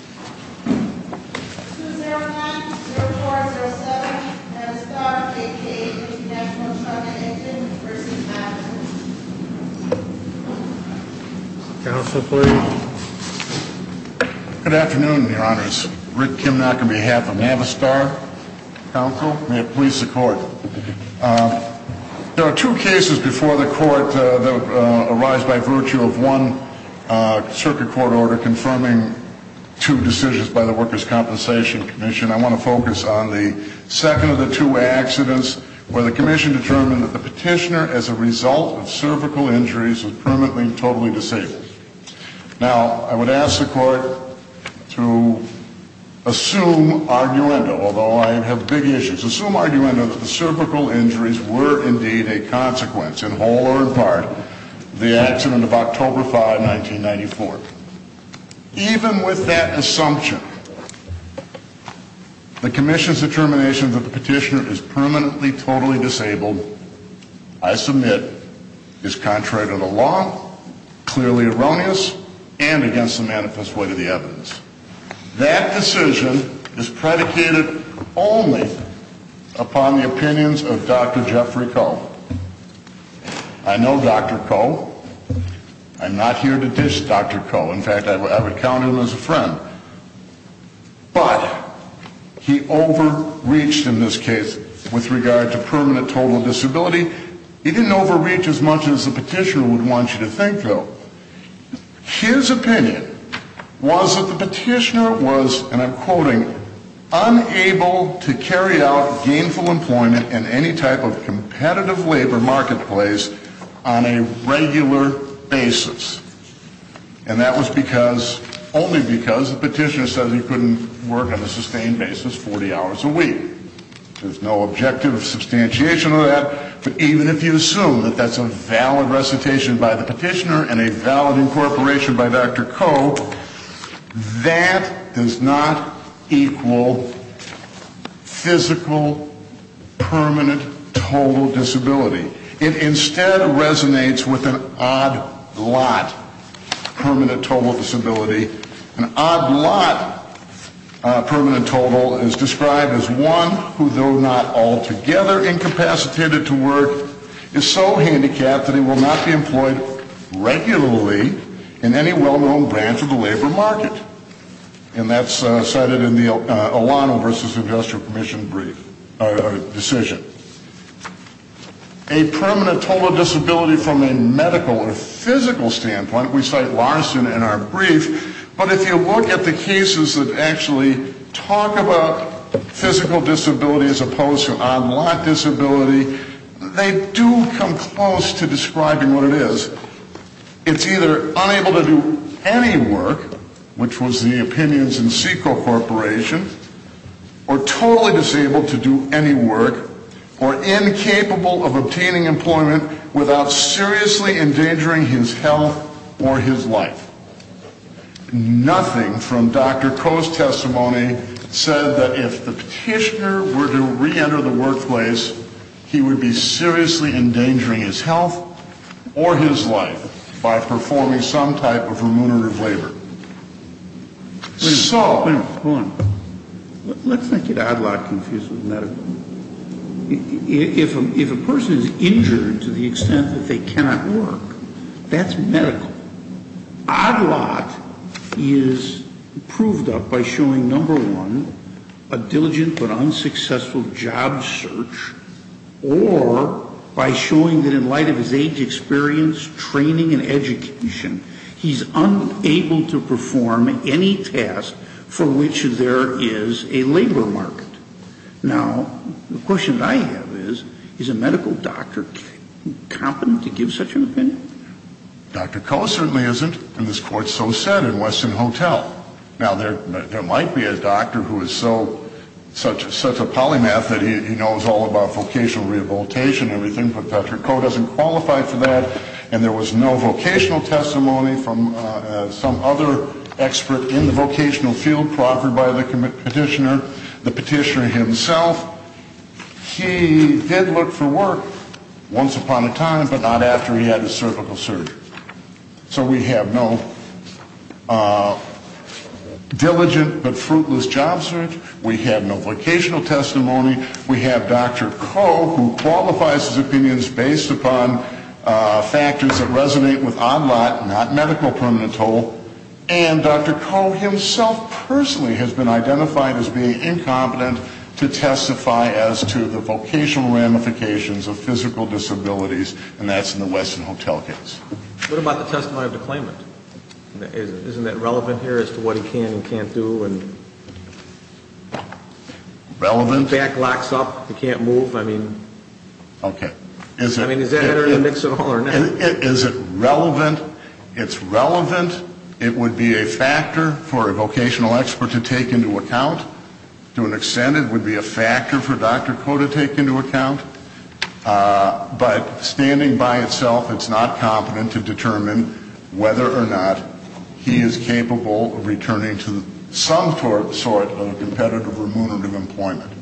2-0-1-0-4-0-7 Navistar, a.k.a. International Trumpet Engine, v. Patterson Counsel, please Good afternoon, Your Honors. Rick Kimnock on behalf of Navistar Council. May it please the Court. There are two cases before the Court that arise by virtue of one circuit court order confirming two decisions by the Workers' Compensation Commission. I want to focus on the second of the two accidents where the Commission determined that the petitioner, as a result of cervical injuries, was permanently and totally disabled. Now, I would ask the Court to assume arguendo, although I have big issues, assume arguendo that the cervical injuries were indeed a consequence, in whole or in part, of the accident of October 5, 1994. Even with that assumption, the Commission's determination that the petitioner is permanently and totally disabled, I submit, is contrary to the law, clearly erroneous, and against the manifest weight of the evidence. That decision is predicated only upon the opinions of Dr. Jeffrey Coe. I know Dr. Coe. I'm not here to dish Dr. Coe. In fact, I would count him as a friend. But he overreached in this case with regard to permanent total disability. He didn't overreach as much as the petitioner would want you to think, though. His opinion was that the petitioner was, and I'm quoting, unable to carry out gainful employment in any type of competitive labor marketplace on a regular basis. And that was because, only because, the petitioner said he couldn't work on a sustained basis 40 hours a week. There's no objective substantiation of that. But even if you assume that that's a valid recitation by the petitioner and a valid incorporation by Dr. Coe, that does not equal physical, permanent, total disability. It instead resonates with an odd lot permanent total disability. An odd lot permanent total is described as one who, though not altogether incapacitated to work, is so handicapped that he will not be employed regularly in any well-known branch of the labor market. And that's cited in the Alano v. Industrial Commission decision. A permanent total disability from a medical or physical standpoint, we cite Larson in our brief, but if you look at the cases that actually talk about physical disability as opposed to odd lot disability, they do come close to describing what it is. It's either unable to do any work, which was the opinions in Seco Corporation, or totally disabled to do any work, or incapable of obtaining employment without seriously endangering his health or his life. Nothing from Dr. Coe's testimony said that if the petitioner were to reenter the workplace, he would be seriously endangering his health or his life by performing some type of remunerative labor. Wait a minute. Hold on. Let's not get odd lot confused with medical. If a person is injured to the extent that they cannot work, that's medical. Odd lot is proved up by showing, number one, a diligent but unsuccessful job search, or by showing that in light of his age experience, training and education, he's unable to perform any task for which there is a labor market. Now, the question that I have is, is a medical doctor competent to give such an opinion? Dr. Coe certainly isn't, and this court so said in Weston Hotel. Now, there might be a doctor who is such a polymath that he knows all about vocational rehabilitation and everything, but Dr. Coe doesn't qualify for that, and there was no vocational testimony from some other expert in the vocational field proffered by the petitioner. The petitioner himself, he did look for work once upon a time, but not after he had his cervical surgery. So we have no diligent but fruitless job search. We have no vocational testimony. We have Dr. Coe who qualifies his opinions based upon factors that resonate with odd lot, not medical permanent toll, and Dr. Coe himself personally has been identified as being incompetent to testify as to the vocational ramifications of physical disabilities, and that's in the Weston Hotel case. What about the testimony of the claimant? Isn't that relevant here as to what he can and can't do? Relevant? The back locks up. He can't move. I mean, is that in the mix at all or not? Is it relevant? It's relevant. It would be a factor for a vocational expert to take into account. To an extent, it would be a factor for Dr. Coe to take into account, but standing by itself, it's not competent to determine whether or not he is capable of returning to some sort of competitive remunerative employment.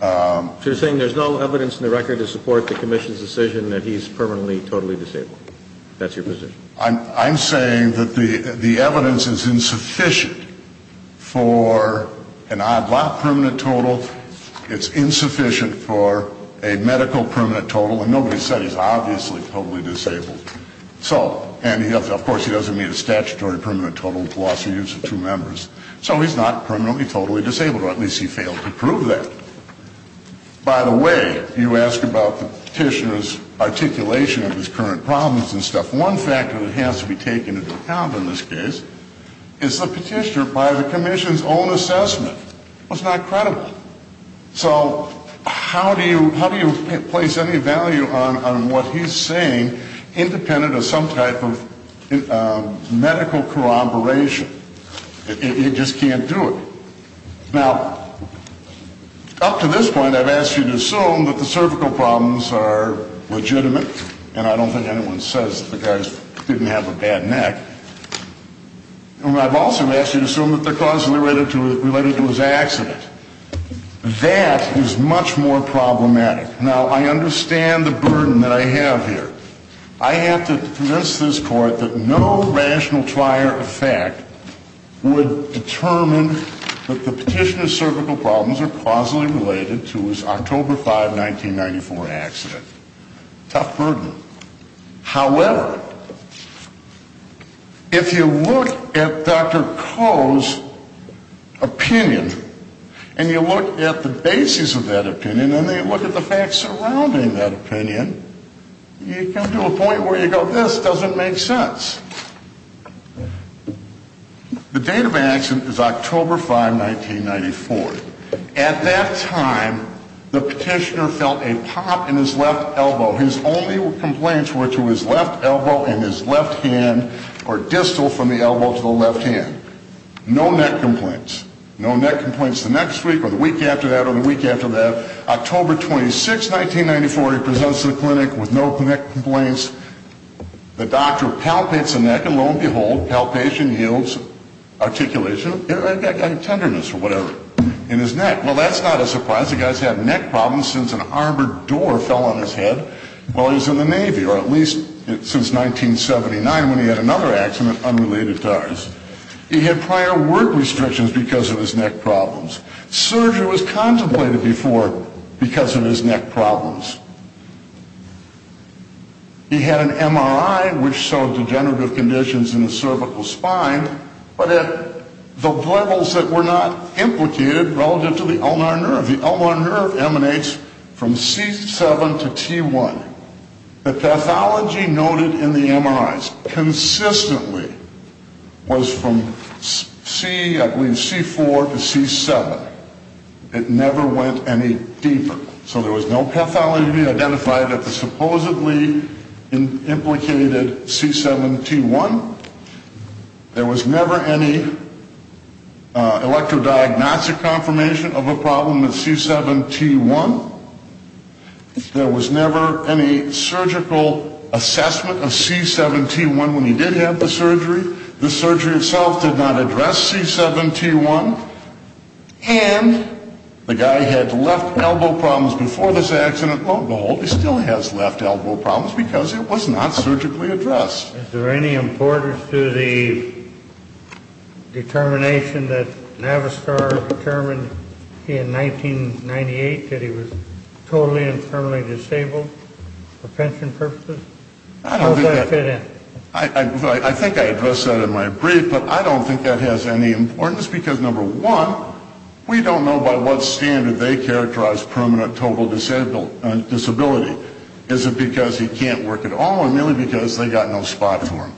So you're saying there's no evidence in the record to support the commission's decision that he's permanently totally disabled? That's your position? I'm saying that the evidence is insufficient for an odd lot permanent total. It's insufficient for a medical permanent total, and nobody said he's obviously totally disabled. And, of course, he doesn't meet a statutory permanent total. He's lost the use of two members. So he's not permanently totally disabled, or at least he failed to prove that. By the way, you ask about the petitioner's articulation of his current problems and stuff. One factor that has to be taken into account in this case is the petitioner, by the commission's own assessment, was not credible. So how do you place any value on what he's saying independent of some type of medical corroboration? You just can't do it. Now, up to this point, I've asked you to assume that the cervical problems are legitimate, and I don't think anyone says the guy didn't have a bad neck. I've also asked you to assume that they're causally related to his accident. That is much more problematic. Now, I understand the burden that I have here. I have to convince this court that no rational trier of fact would determine that the petitioner's cervical problems are causally related to his October 5, 1994 accident. Tough burden. However, if you look at Dr. Koh's opinion, and you look at the basis of that opinion, and then you look at the facts surrounding that opinion, you come to a point where you go, this doesn't make sense. The date of accident is October 5, 1994. At that time, the petitioner felt a pop in his left elbow. His only complaints were to his left elbow and his left hand, or distal from the elbow to the left hand. No neck complaints. No neck complaints the next week or the week after that or the week after that. October 26, 1994, he presents to the clinic with no neck complaints. The doctor palpates the neck, and lo and behold, palpation yields articulation, tenderness or whatever. In his neck. Well, that's not a surprise. The guy's had neck problems since an armored door fell on his head while he was in the Navy, or at least since 1979 when he had another accident unrelated to ours. He had prior work restrictions because of his neck problems. Surgery was contemplated before because of his neck problems. He had an MRI which showed degenerative conditions in the cervical spine, but at the levels that were not implicated relative to the ulnar nerve. The ulnar nerve emanates from C7 to T1. The pathology noted in the MRIs consistently was from C4 to C7. It never went any deeper. So there was no pathology identified at the supposedly implicated C7 T1. There was never any electrodiagnostic confirmation of a problem with C7 T1. There was never any surgical assessment of C7 T1 when he did have the surgery. The surgery itself did not address C7 T1. And the guy had left elbow problems before this accident. Lo and behold, he still has left elbow problems because it was not surgically addressed. Is there any importance to the determination that Navistar determined in 1998 that he was totally and firmly disabled for pension purposes? How does that fit in? I think I addressed that in my brief, but I don't think that has any importance because, number one, we don't know by what standard they characterize permanent total disability. Is it because he can't work at all or merely because they've got no spot for him?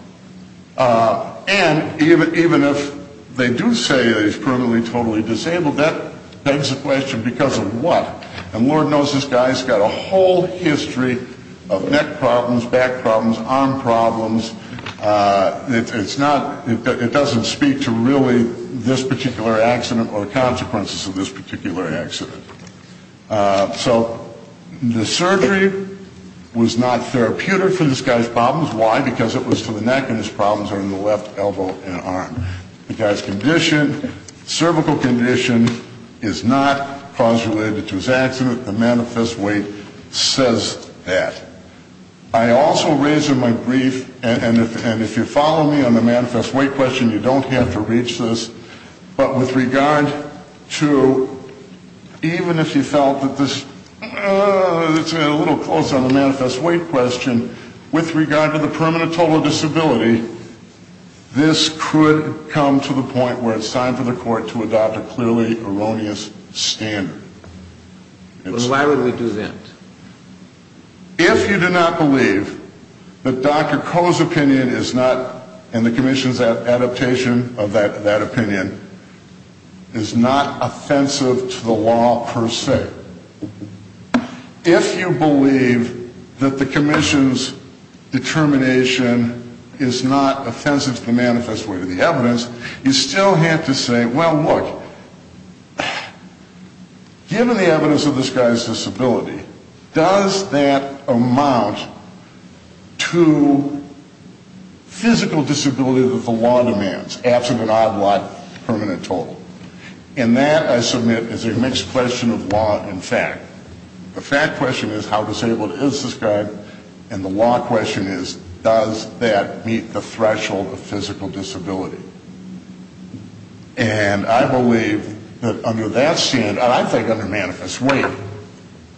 And even if they do say that he's permanently totally disabled, that begs the question, because of what? And Lord knows this guy's got a whole history of neck problems, back problems, arm problems. It doesn't speak to really this particular accident or the consequences of this particular accident. So the surgery was not therapeutic for this guy's problems. Why? Because it was to the neck, and his problems are in the left elbow and arm. The guy's condition, cervical condition, is not cause related to his accident. The manifest weight says that. I also raised in my brief, and if you follow me on the manifest weight question, you don't have to reach this, but with regard to even if you felt that this is a little close on the manifest weight question, with regard to the permanent total disability, this could come to the point where it's time for the court to adopt a clearly erroneous standard. Why would we do that? If you do not believe that Dr. Koh's opinion is not, and the commission's adaptation of that opinion, is not offensive to the law per se. If you believe that the commission's determination is not offensive to the manifest weight of the evidence, you still have to say, well, look, given the evidence of this guy's disability, does that amount to physical disability that the law demands, absent an odd-block permanent total? And that, I submit, is a mixed question of law and fact. The fact question is, how disabled is this guy? And the law question is, does that meet the threshold of physical disability? And I believe that under that standard, and I think under manifest weight,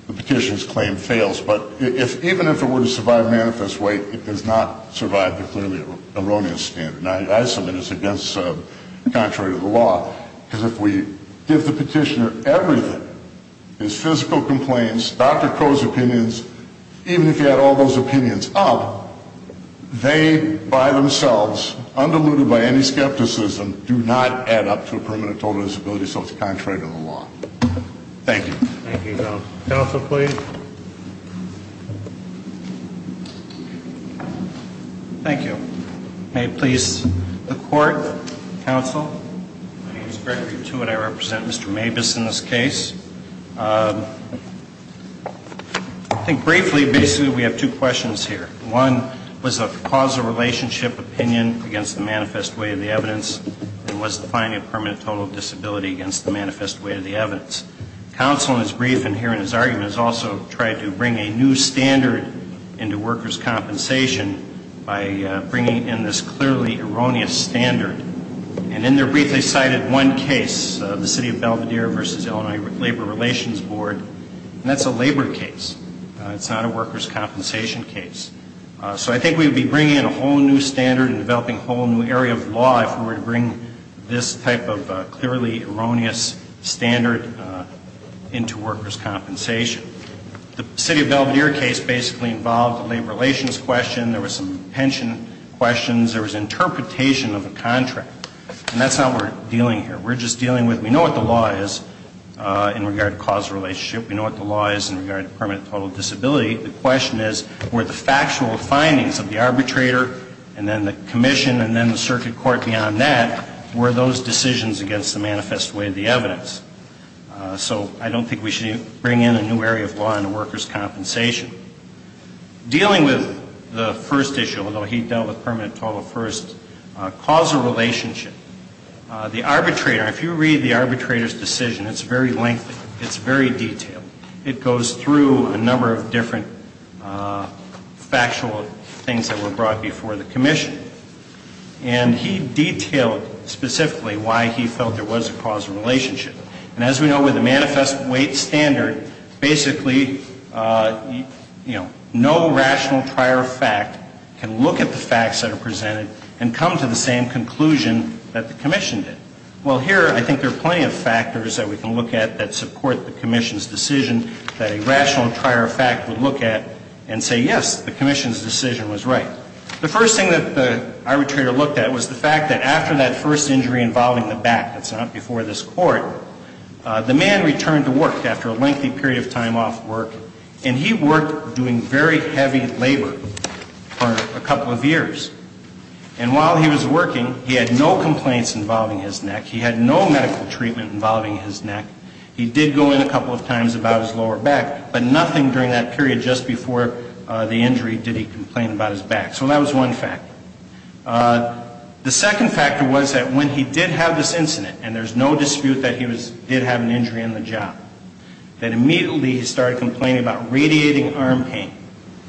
the petition's claim fails, but even if it were to survive manifest weight, it does not survive the clearly erroneous standard. And I submit it's contrary to the law. Because if we give the petitioner everything, his physical complaints, Dr. Koh's opinions, even if you add all those opinions up, they by themselves, undiluted by any skepticism, do not add up to a permanent total disability, so it's contrary to the law. Thank you. Thank you. Counsel, please. Thank you. May it please the Court. Counsel. My name is Gregory Tewitt. I represent Mr. Mabus in this case. I think briefly, basically, we have two questions here. One was a causal relationship opinion against the manifest weight of the evidence, and was defining a permanent total disability against the manifest weight of the evidence. Counsel, in his brief and here in his argument, has also tried to bring a new standard into workers' compensation by bringing in this clearly erroneous standard. And in there briefly cited one case, the City of Belvedere v. Illinois Labor Relations Board, and that's a labor case. It's not a workers' compensation case. So I think we would be bringing in a whole new standard and developing a whole new area of law if we were to bring this type of clearly erroneous standard into workers' compensation. The City of Belvedere case basically involved a labor relations question. There was some pension questions. There was interpretation of a contract. And that's not what we're dealing here. We're just dealing with, we know what the law is in regard to causal relationship. We know what the law is in regard to permanent total disability. The question is, were the factual findings of the arbitrator and then the commission and then the circuit court beyond that, were those decisions against the manifest weight of the evidence? So I don't think we should bring in a new area of law into workers' compensation. Dealing with the first issue, although he dealt with permanent total first, causal relationship. The arbitrator, if you read the arbitrator's decision, it's very lengthy. It's very detailed. It goes through a number of different factual things that were brought before the commission. And he detailed specifically why he felt there was a causal relationship. And as we know, with a manifest weight standard, basically, you know, no rational prior fact can look at the facts that are presented and come to the same conclusion that the commission did. Well, here, I think there are plenty of factors that we can look at that support the commission's decision, that a rational prior fact would look at and say, yes, the commission's decision was right. The first thing that the arbitrator looked at was the fact that after that first injury involving the back, that's not before this court, the man returned to work after a lengthy period of time off work. And he worked doing very heavy labor for a couple of years. And while he was working, he had no complaints involving his neck. He had no medical treatment involving his neck. He did go in a couple of times about his lower back. But nothing during that period just before the injury did he complain about his back. So that was one factor. The second factor was that when he did have this incident, and there's no dispute that he did have an injury on the job, that immediately he started complaining about radiating arm pain.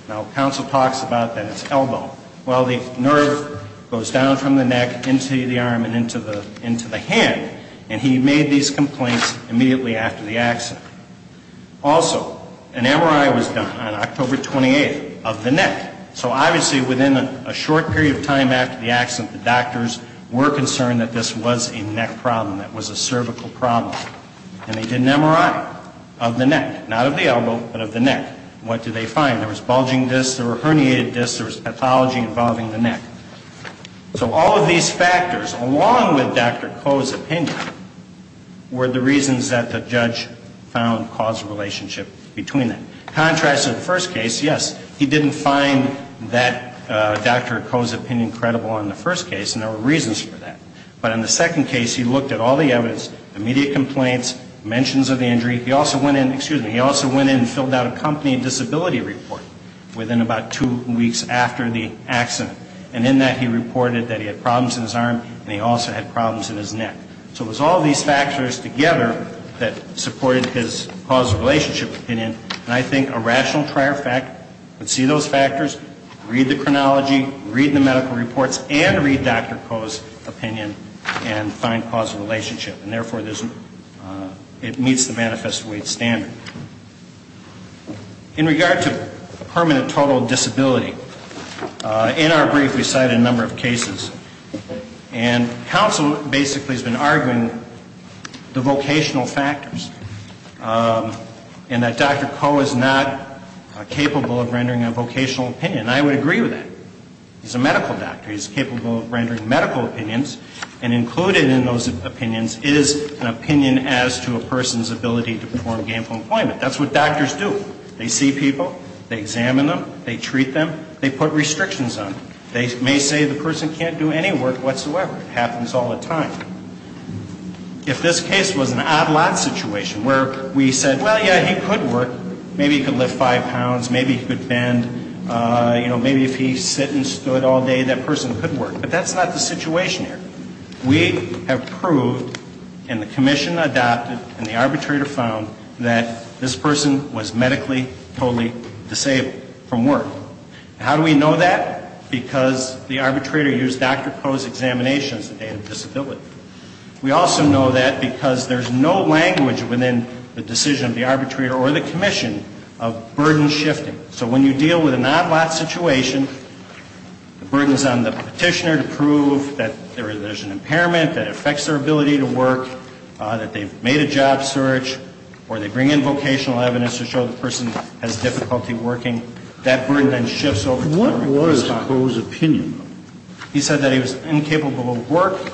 Now, counsel talks about that it's elbow. Well, the nerve goes down from the neck into the arm and into the hand. And he made these complaints immediately after the accident. Also, an MRI was done on October 28th of the neck. So obviously within a short period of time after the accident, the doctors were concerned that this was a neck problem, that it was a cervical problem. And they did an MRI of the neck, not of the elbow, but of the neck. What did they find? There was bulging discs. There were herniated discs. There was pathology involving the neck. So all of these factors, along with Dr. Koh's opinion, were the reasons that the judge found causal relationship between them. Contrast to the first case, yes, he didn't find that Dr. Koh's opinion credible in the first case, and there were reasons for that. But in the second case, he looked at all the evidence, immediate complaints, mentions of the injury. He also went in and filled out a company disability report within about two weeks after the accident. And in that, he reported that he had problems in his arm, and he also had problems in his neck. So it was all these factors together that supported his causal relationship opinion. And I think a rational trier would see those factors, read the chronology, read the medical reports, and read Dr. Koh's opinion and find causal relationship. And therefore, it meets the manifest weight standard. In regard to permanent total disability, in our brief, we cited a number of cases, and counsel basically has been arguing the vocational factors, and that Dr. Koh is not capable of rendering a vocational opinion. I would agree with that. He's a medical doctor. He's capable of rendering medical opinions, and included in those opinions is an opinion as to a person's ability to perform gainful employment. That's what doctors do. They see people. They examine them. They treat them. They put restrictions on them. They may say the person can't do any work whatsoever. It happens all the time. If this case was an odd lot situation where we said, well, yeah, he could work. Maybe he could lift five pounds. Maybe he could bend. You know, maybe if he sit and stood all day, that person could work. But that's not the situation here. We have proved, and the commission adopted, and the arbitrator found, that this person was medically totally disabled from work. How do we know that? Because the arbitrator used Dr. Koh's examination as the date of disability. We also know that because there's no language within the decision of the arbitrator or the commission of burden shifting. So when you deal with an odd lot situation, the burden is on the petitioner to prove that there's an impairment, that it affects their ability to work, that they've made a job search, or they bring in vocational evidence to show the person has difficulty working. That burden then shifts over time. What was Koh's opinion? He said that he was incapable of work.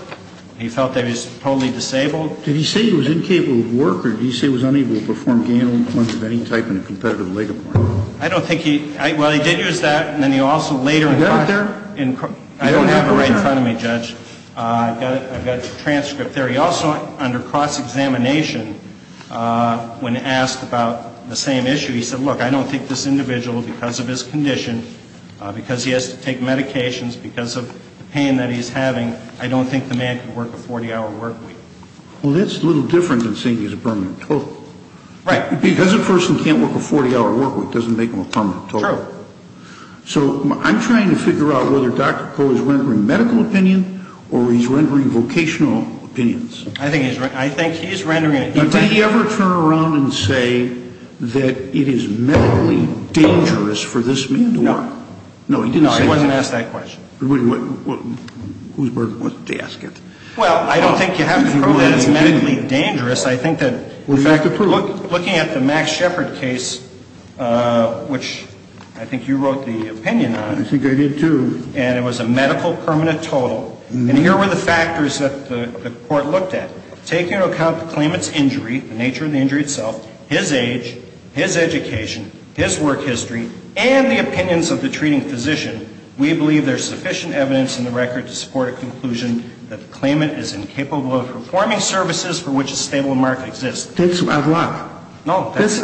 He felt that he was totally disabled. Did he say he was incapable of work, or did he say he was unable to perform gainful employment of any type in a competitive labor market? I don't think he – well, he did use that. And then he also later – You got it there? I don't have it right in front of me, Judge. I've got a transcript there. He also, under cross-examination, when asked about the same issue, he said, look, I don't think this individual, because of his condition, because he has to take medications, because of the pain that he's having, I don't think the man could work a 40-hour work week. Well, that's a little different than saying he's a permanent total. Right. Because a person can't work a 40-hour work week, it doesn't make them a permanent total. True. So I'm trying to figure out whether Dr. Koh is rendering medical opinion or he's rendering vocational opinions. I think he's – I think he's rendering – Did he ever turn around and say that it is medically dangerous for this man to work? No. No, he didn't say that. No, he wasn't asked that question. Well, who's burden was it to ask it? Well, I don't think you have to prove that it's medically dangerous. I think that – Well, you have to prove it. Well, looking at the Max Shepard case, which I think you wrote the opinion on. I think I did, too. And it was a medical permanent total. And here were the factors that the court looked at. Taking into account the claimant's injury, the nature of the injury itself, his age, his education, his work history, and the opinions of the treating physician, we believe there's sufficient evidence in the record to support a conclusion that the claimant is incapable of performing services for which a stable mark exists. That's odd lot. No, that was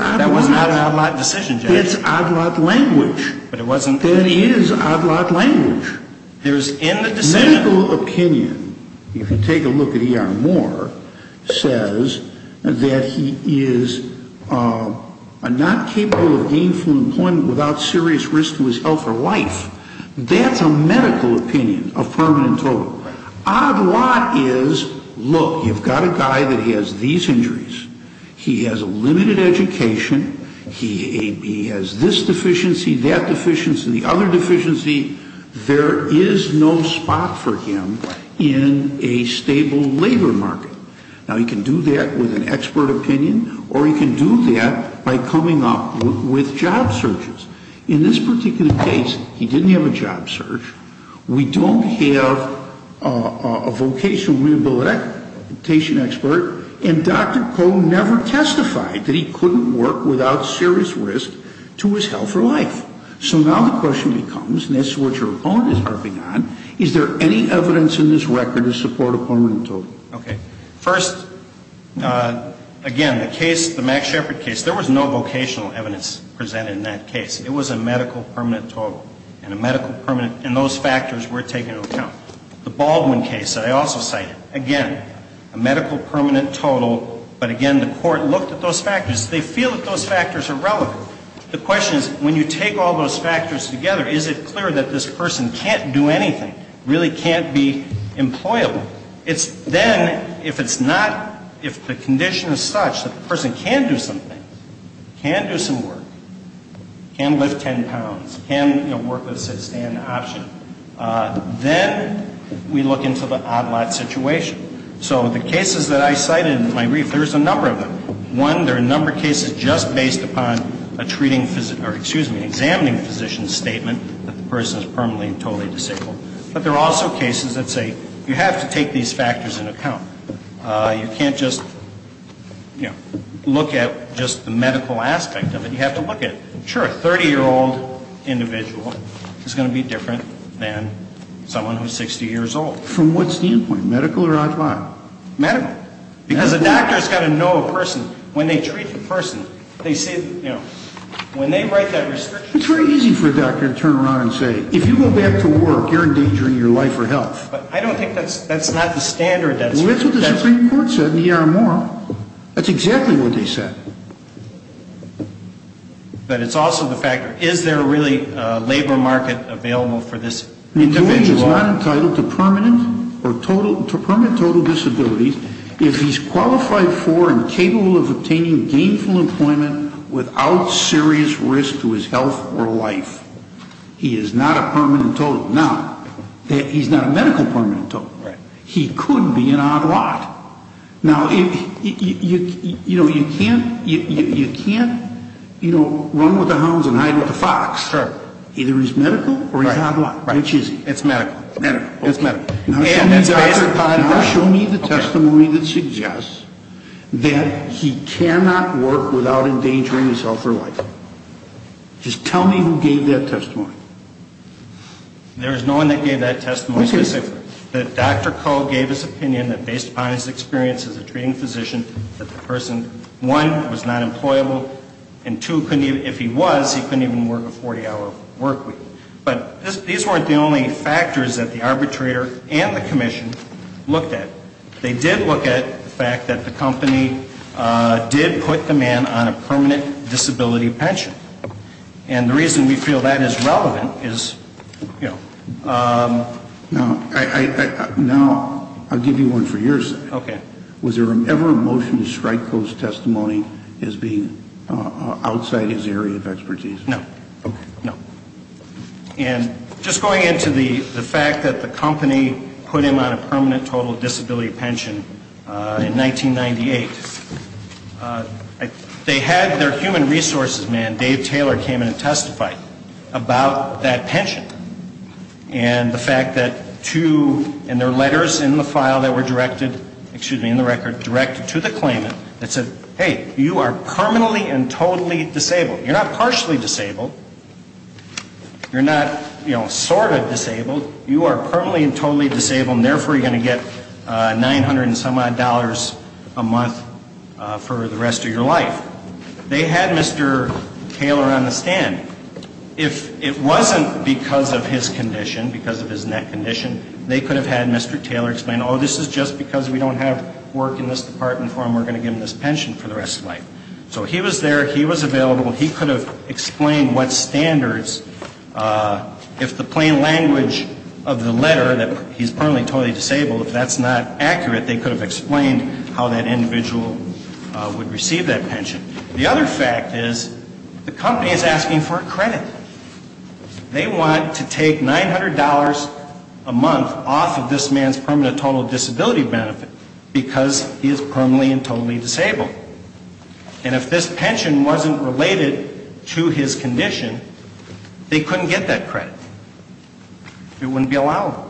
not an odd lot decision, Judge. That's odd lot language. But it wasn't – It is odd lot language. There's in the decision – Medical opinion, if you take a look at E.R. Moore, says that he is not capable of gainful employment without serious risk to his health or life. That's a medical opinion, a permanent total. Right. Odd lot is, look, you've got a guy that has these injuries. He has a limited education. He has this deficiency, that deficiency, the other deficiency. There is no spot for him in a stable labor market. Now, he can do that with an expert opinion, or he can do that by coming up with job searches. In this particular case, he didn't have a job search. We don't have a vocational rehabilitation expert, and Dr. Koh never testified that he couldn't work without serious risk to his health or life. So now the question becomes, and this is what your opponent is harping on, is there any evidence in this record to support a permanent total? Okay. First, again, the case, the Max Shepard case, there was no vocational evidence presented in that case. It was a medical permanent total. And a medical permanent, and those factors were taken into account. The Baldwin case that I also cited, again, a medical permanent total, but again, the court looked at those factors. They feel that those factors are relevant. The question is, when you take all those factors together, is it clear that this person can't do anything, really can't be employable? It's then, if it's not, if the condition is such that the person can do something, can do some work, can lift ten pounds, can work with a sit-and-stand option, then we look into the odd lot situation. So the cases that I cited in my brief, there's a number of them. One, there are a number of cases just based upon a treating physician, or excuse me, examining physician's statement that the person is permanently and totally disabled. But there are also cases that say you have to take these factors into account. You can't just, you know, look at just the medical aspect of it. You have to look at, sure, a 30-year-old individual is going to be different than someone who's 60 years old. From what standpoint? Medical or odd lot? Medical. Because the doctor's got to know a person. When they treat the person, they say, you know, when they write that restriction. It's very easy for a doctor to turn around and say, if you go back to work, you're endangering your life or health. I don't think that's not the standard. Well, that's what the Supreme Court said in the E.R. Moore. That's exactly what they said. But it's also the fact, is there really a labor market available for this individual? The employee is not entitled to permanent total disability if he's qualified for and capable of obtaining gainful employment without serious risk to his health or life. He is not a permanent total. Now, he's not a medical permanent total. He could be an odd lot. Now, you know, you can't, you know, run with the hounds and hide with the fox. Sure. Either he's medical or he's odd lot. Right. Which is he? It's medical. Medical. It's medical. Now show me the testimony that suggests that he cannot work without endangering his health or life. Just tell me who gave that testimony. There is no one that gave that testimony specifically. But Dr. Koh gave his opinion that based upon his experience as a treating physician, that the person, one, was not employable, and two, if he was, he couldn't even work a 40-hour work week. But these weren't the only factors that the arbitrator and the commission looked at. They did look at the fact that the company did put the man on a permanent disability pension. And the reason we feel that is relevant is, you know, Now, I'll give you one for your sake. Okay. Was there ever a motion to strike Koh's testimony as being outside his area of expertise? No. Okay. No. And just going into the fact that the company put him on a permanent total disability pension in 1998, they had their human resources man, Dave Taylor, came in and testified about that pension. And the fact that two in their letters in the file that were directed, excuse me, in the record, directed to the claimant that said, hey, you are permanently and totally disabled. You're not partially disabled. You're not, you know, sort of disabled. You are permanently and totally disabled, and therefore you're going to get 900 and some odd dollars a month for the rest of your life. They had Mr. Taylor on the stand. If it wasn't because of his condition, because of his neck condition, they could have had Mr. Taylor explain, oh, this is just because we don't have work in this department for him. We're going to give him this pension for the rest of his life. So he was there. He was available. He could have explained what standards, if the plain language of the letter, that he's permanently and totally disabled, if that's not accurate, they could have explained how that individual would receive that pension. The other fact is the company is asking for a credit. They want to take $900 a month off of this man's permanent total disability benefit because he is permanently and totally disabled. And if this pension wasn't related to his condition, they couldn't get that credit. It wouldn't be allowed.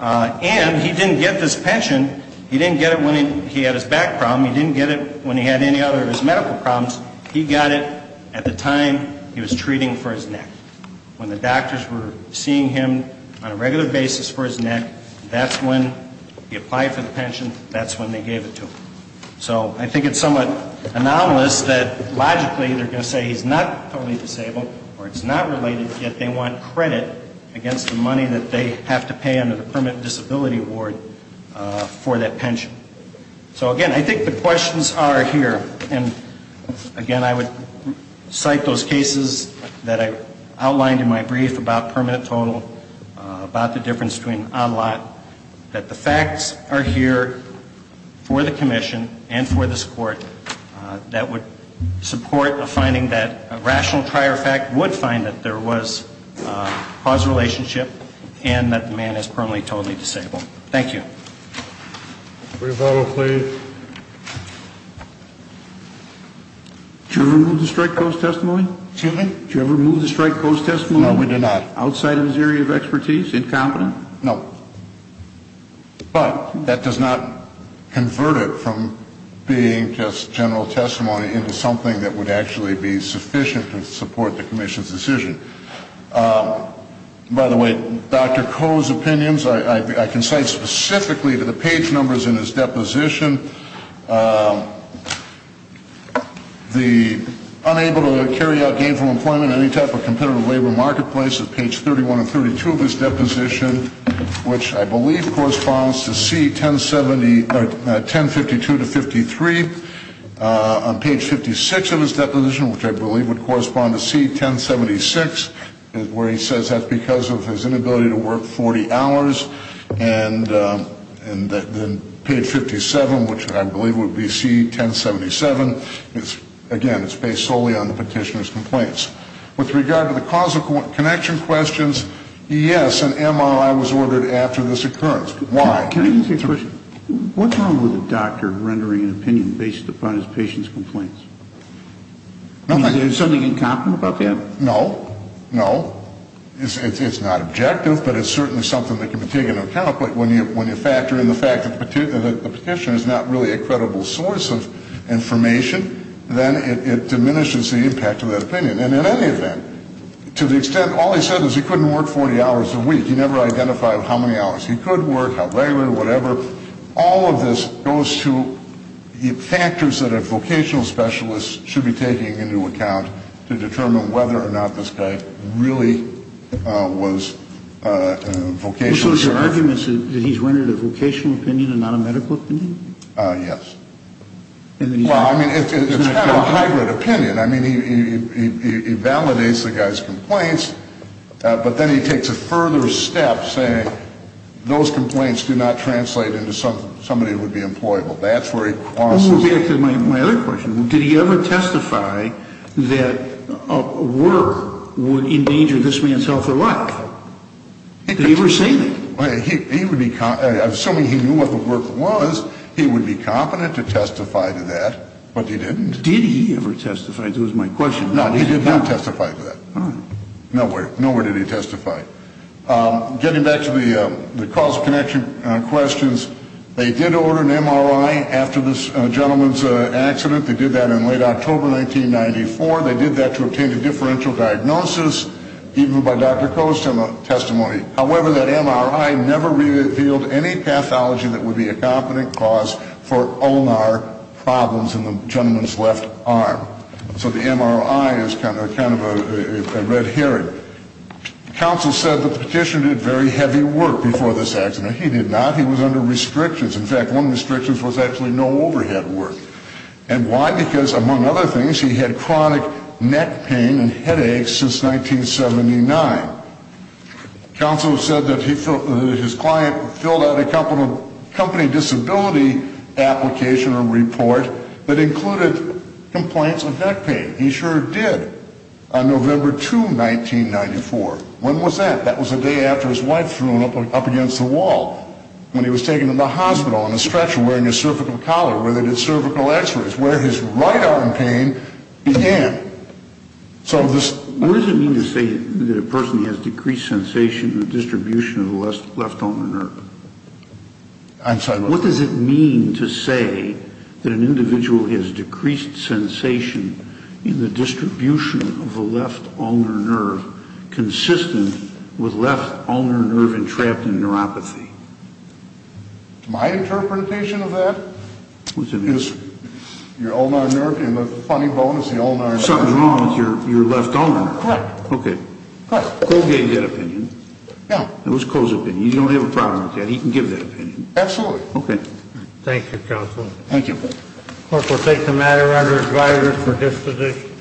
And he didn't get this pension, he didn't get it when he had his back problem. He didn't get it when he had any other of his medical problems. He got it at the time he was treating for his neck. When the doctors were seeing him on a regular basis for his neck, that's when he applied for the pension, that's when they gave it to him. So I think it's somewhat anomalous that logically they're going to say he's not totally disabled or it's not related, yet they want credit against the money that they have to pay under the permanent disability award for that pension. So, again, I think the questions are here. And, again, I would cite those cases that I outlined in my brief about permanent total, about the difference between on lot, that the facts are here for the commission and for this Court that would support a finding that a rational prior fact would find that there was a causal relationship and that the man is permanently and totally disabled. Thank you. MR. COLEMAN. Rebuttal, please. MR. KLEINER. Did you ever move to strike Coe's testimony? MR. COLEMAN. Excuse me? MR. KLEINER. Did you ever move to strike Coe's testimony? MR. COLEMAN. No, we did not. MR. KLEINER. Outside of his area of expertise, incompetent? MR. COLEMAN. No. But that does not convert it from being just general testimony into something that would actually be sufficient to support the commission's decision. By the way, Dr. Coe's opinions, I can cite specifically to the page numbers in his deposition. The unable to carry out gainful employment in any type of competitive labor marketplace at page 31 and 32 of his deposition, which I believe corresponds to C1052-53. On page 56 of his deposition, which I believe would correspond to C1076, where he says that's because of his inability to work 40 hours. And then page 57, which I believe would be C1077, again, it's based solely on the petitioner's complaints. With regard to the causal connection questions, yes, an MRI was ordered after this occurrence. Why? MR. KLEINER. Can I ask you a question? What's wrong with a doctor rendering an opinion based upon his patient's complaints? Is there something incompetent about that? MR. COLEMAN. No. No. It's not objective, but it's certainly something that can be taken into account. But when you factor in the fact that the petitioner is not really a credible source of information, then it diminishes the impact of that opinion. And in any event, to the extent all he said was he couldn't work 40 hours a week, he never identified how many hours he could work, how regularly, whatever, all of this goes to the factors that a vocational specialist should be taking into account to determine whether or not this guy really was a vocational specialist. MR. KLEINER. Which was your argument, that he's rendered a vocational opinion and not a medical opinion? MR. COLEMAN. MR. KLEINER. And then he's not. MR. COLEMAN. Well, I mean, it's kind of a hybrid opinion. I mean, he validates the guy's complaints, but then he takes a further step, saying those complaints do not translate into somebody who would be employable. That's where he crosses. MR. KLEINER. Well, moving back to my other question, did he ever testify that work would endanger this man's health or life? Did he ever say that? MR. COLEMAN. I'm assuming he knew what the work was. MR. KLEINER. Did he ever testify? That was my question. MR. COLEMAN. No, he did not testify to that. MR. KLEINER. Oh. MR. COLEMAN. Nowhere. Nowhere did he testify. Getting back to the cause of connection questions, they did order an MRI after this gentleman's accident. They did that in late October 1994. They did that to obtain a differential diagnosis, even by Dr. Coe's testimony. However, that MRI never revealed any pathology that would be a competent cause for ulnar problems in the gentleman's left arm. So the MRI is kind of a red herring. Counsel said that the petitioner did very heavy work before this accident. He did not. He was under restrictions. In fact, one of the restrictions was actually no overhead work. And why? Because, among other things, he had chronic neck pain and headaches since 1979. Counsel said that his client filled out a company disability application or report that included complaints of neck pain. He sure did. On November 2, 1994. When was that? That was the day after his wife threw him up against the wall when he was taken to the hospital on a stretcher wearing a cervical collar where they did cervical x-rays, where his right arm pain began. What does it mean to say that a person has decreased sensation in the distribution of the left ulnar nerve? I'm sorry? What does it mean to say that an individual has decreased sensation in the distribution of the left ulnar nerve consistent with left ulnar nerve entrapped in neuropathy? My interpretation of that is your ulnar nerve in the funny bone is the ulnar nerve. Something's wrong with your left ulnar nerve. Correct. Okay. Cole gave that opinion. Yeah. It was Cole's opinion. You don't have a problem with that. He can give that opinion. Absolutely. Okay. Thank you, Counsel. Thank you. Clerk, we'll take the matter under advisory for disposition.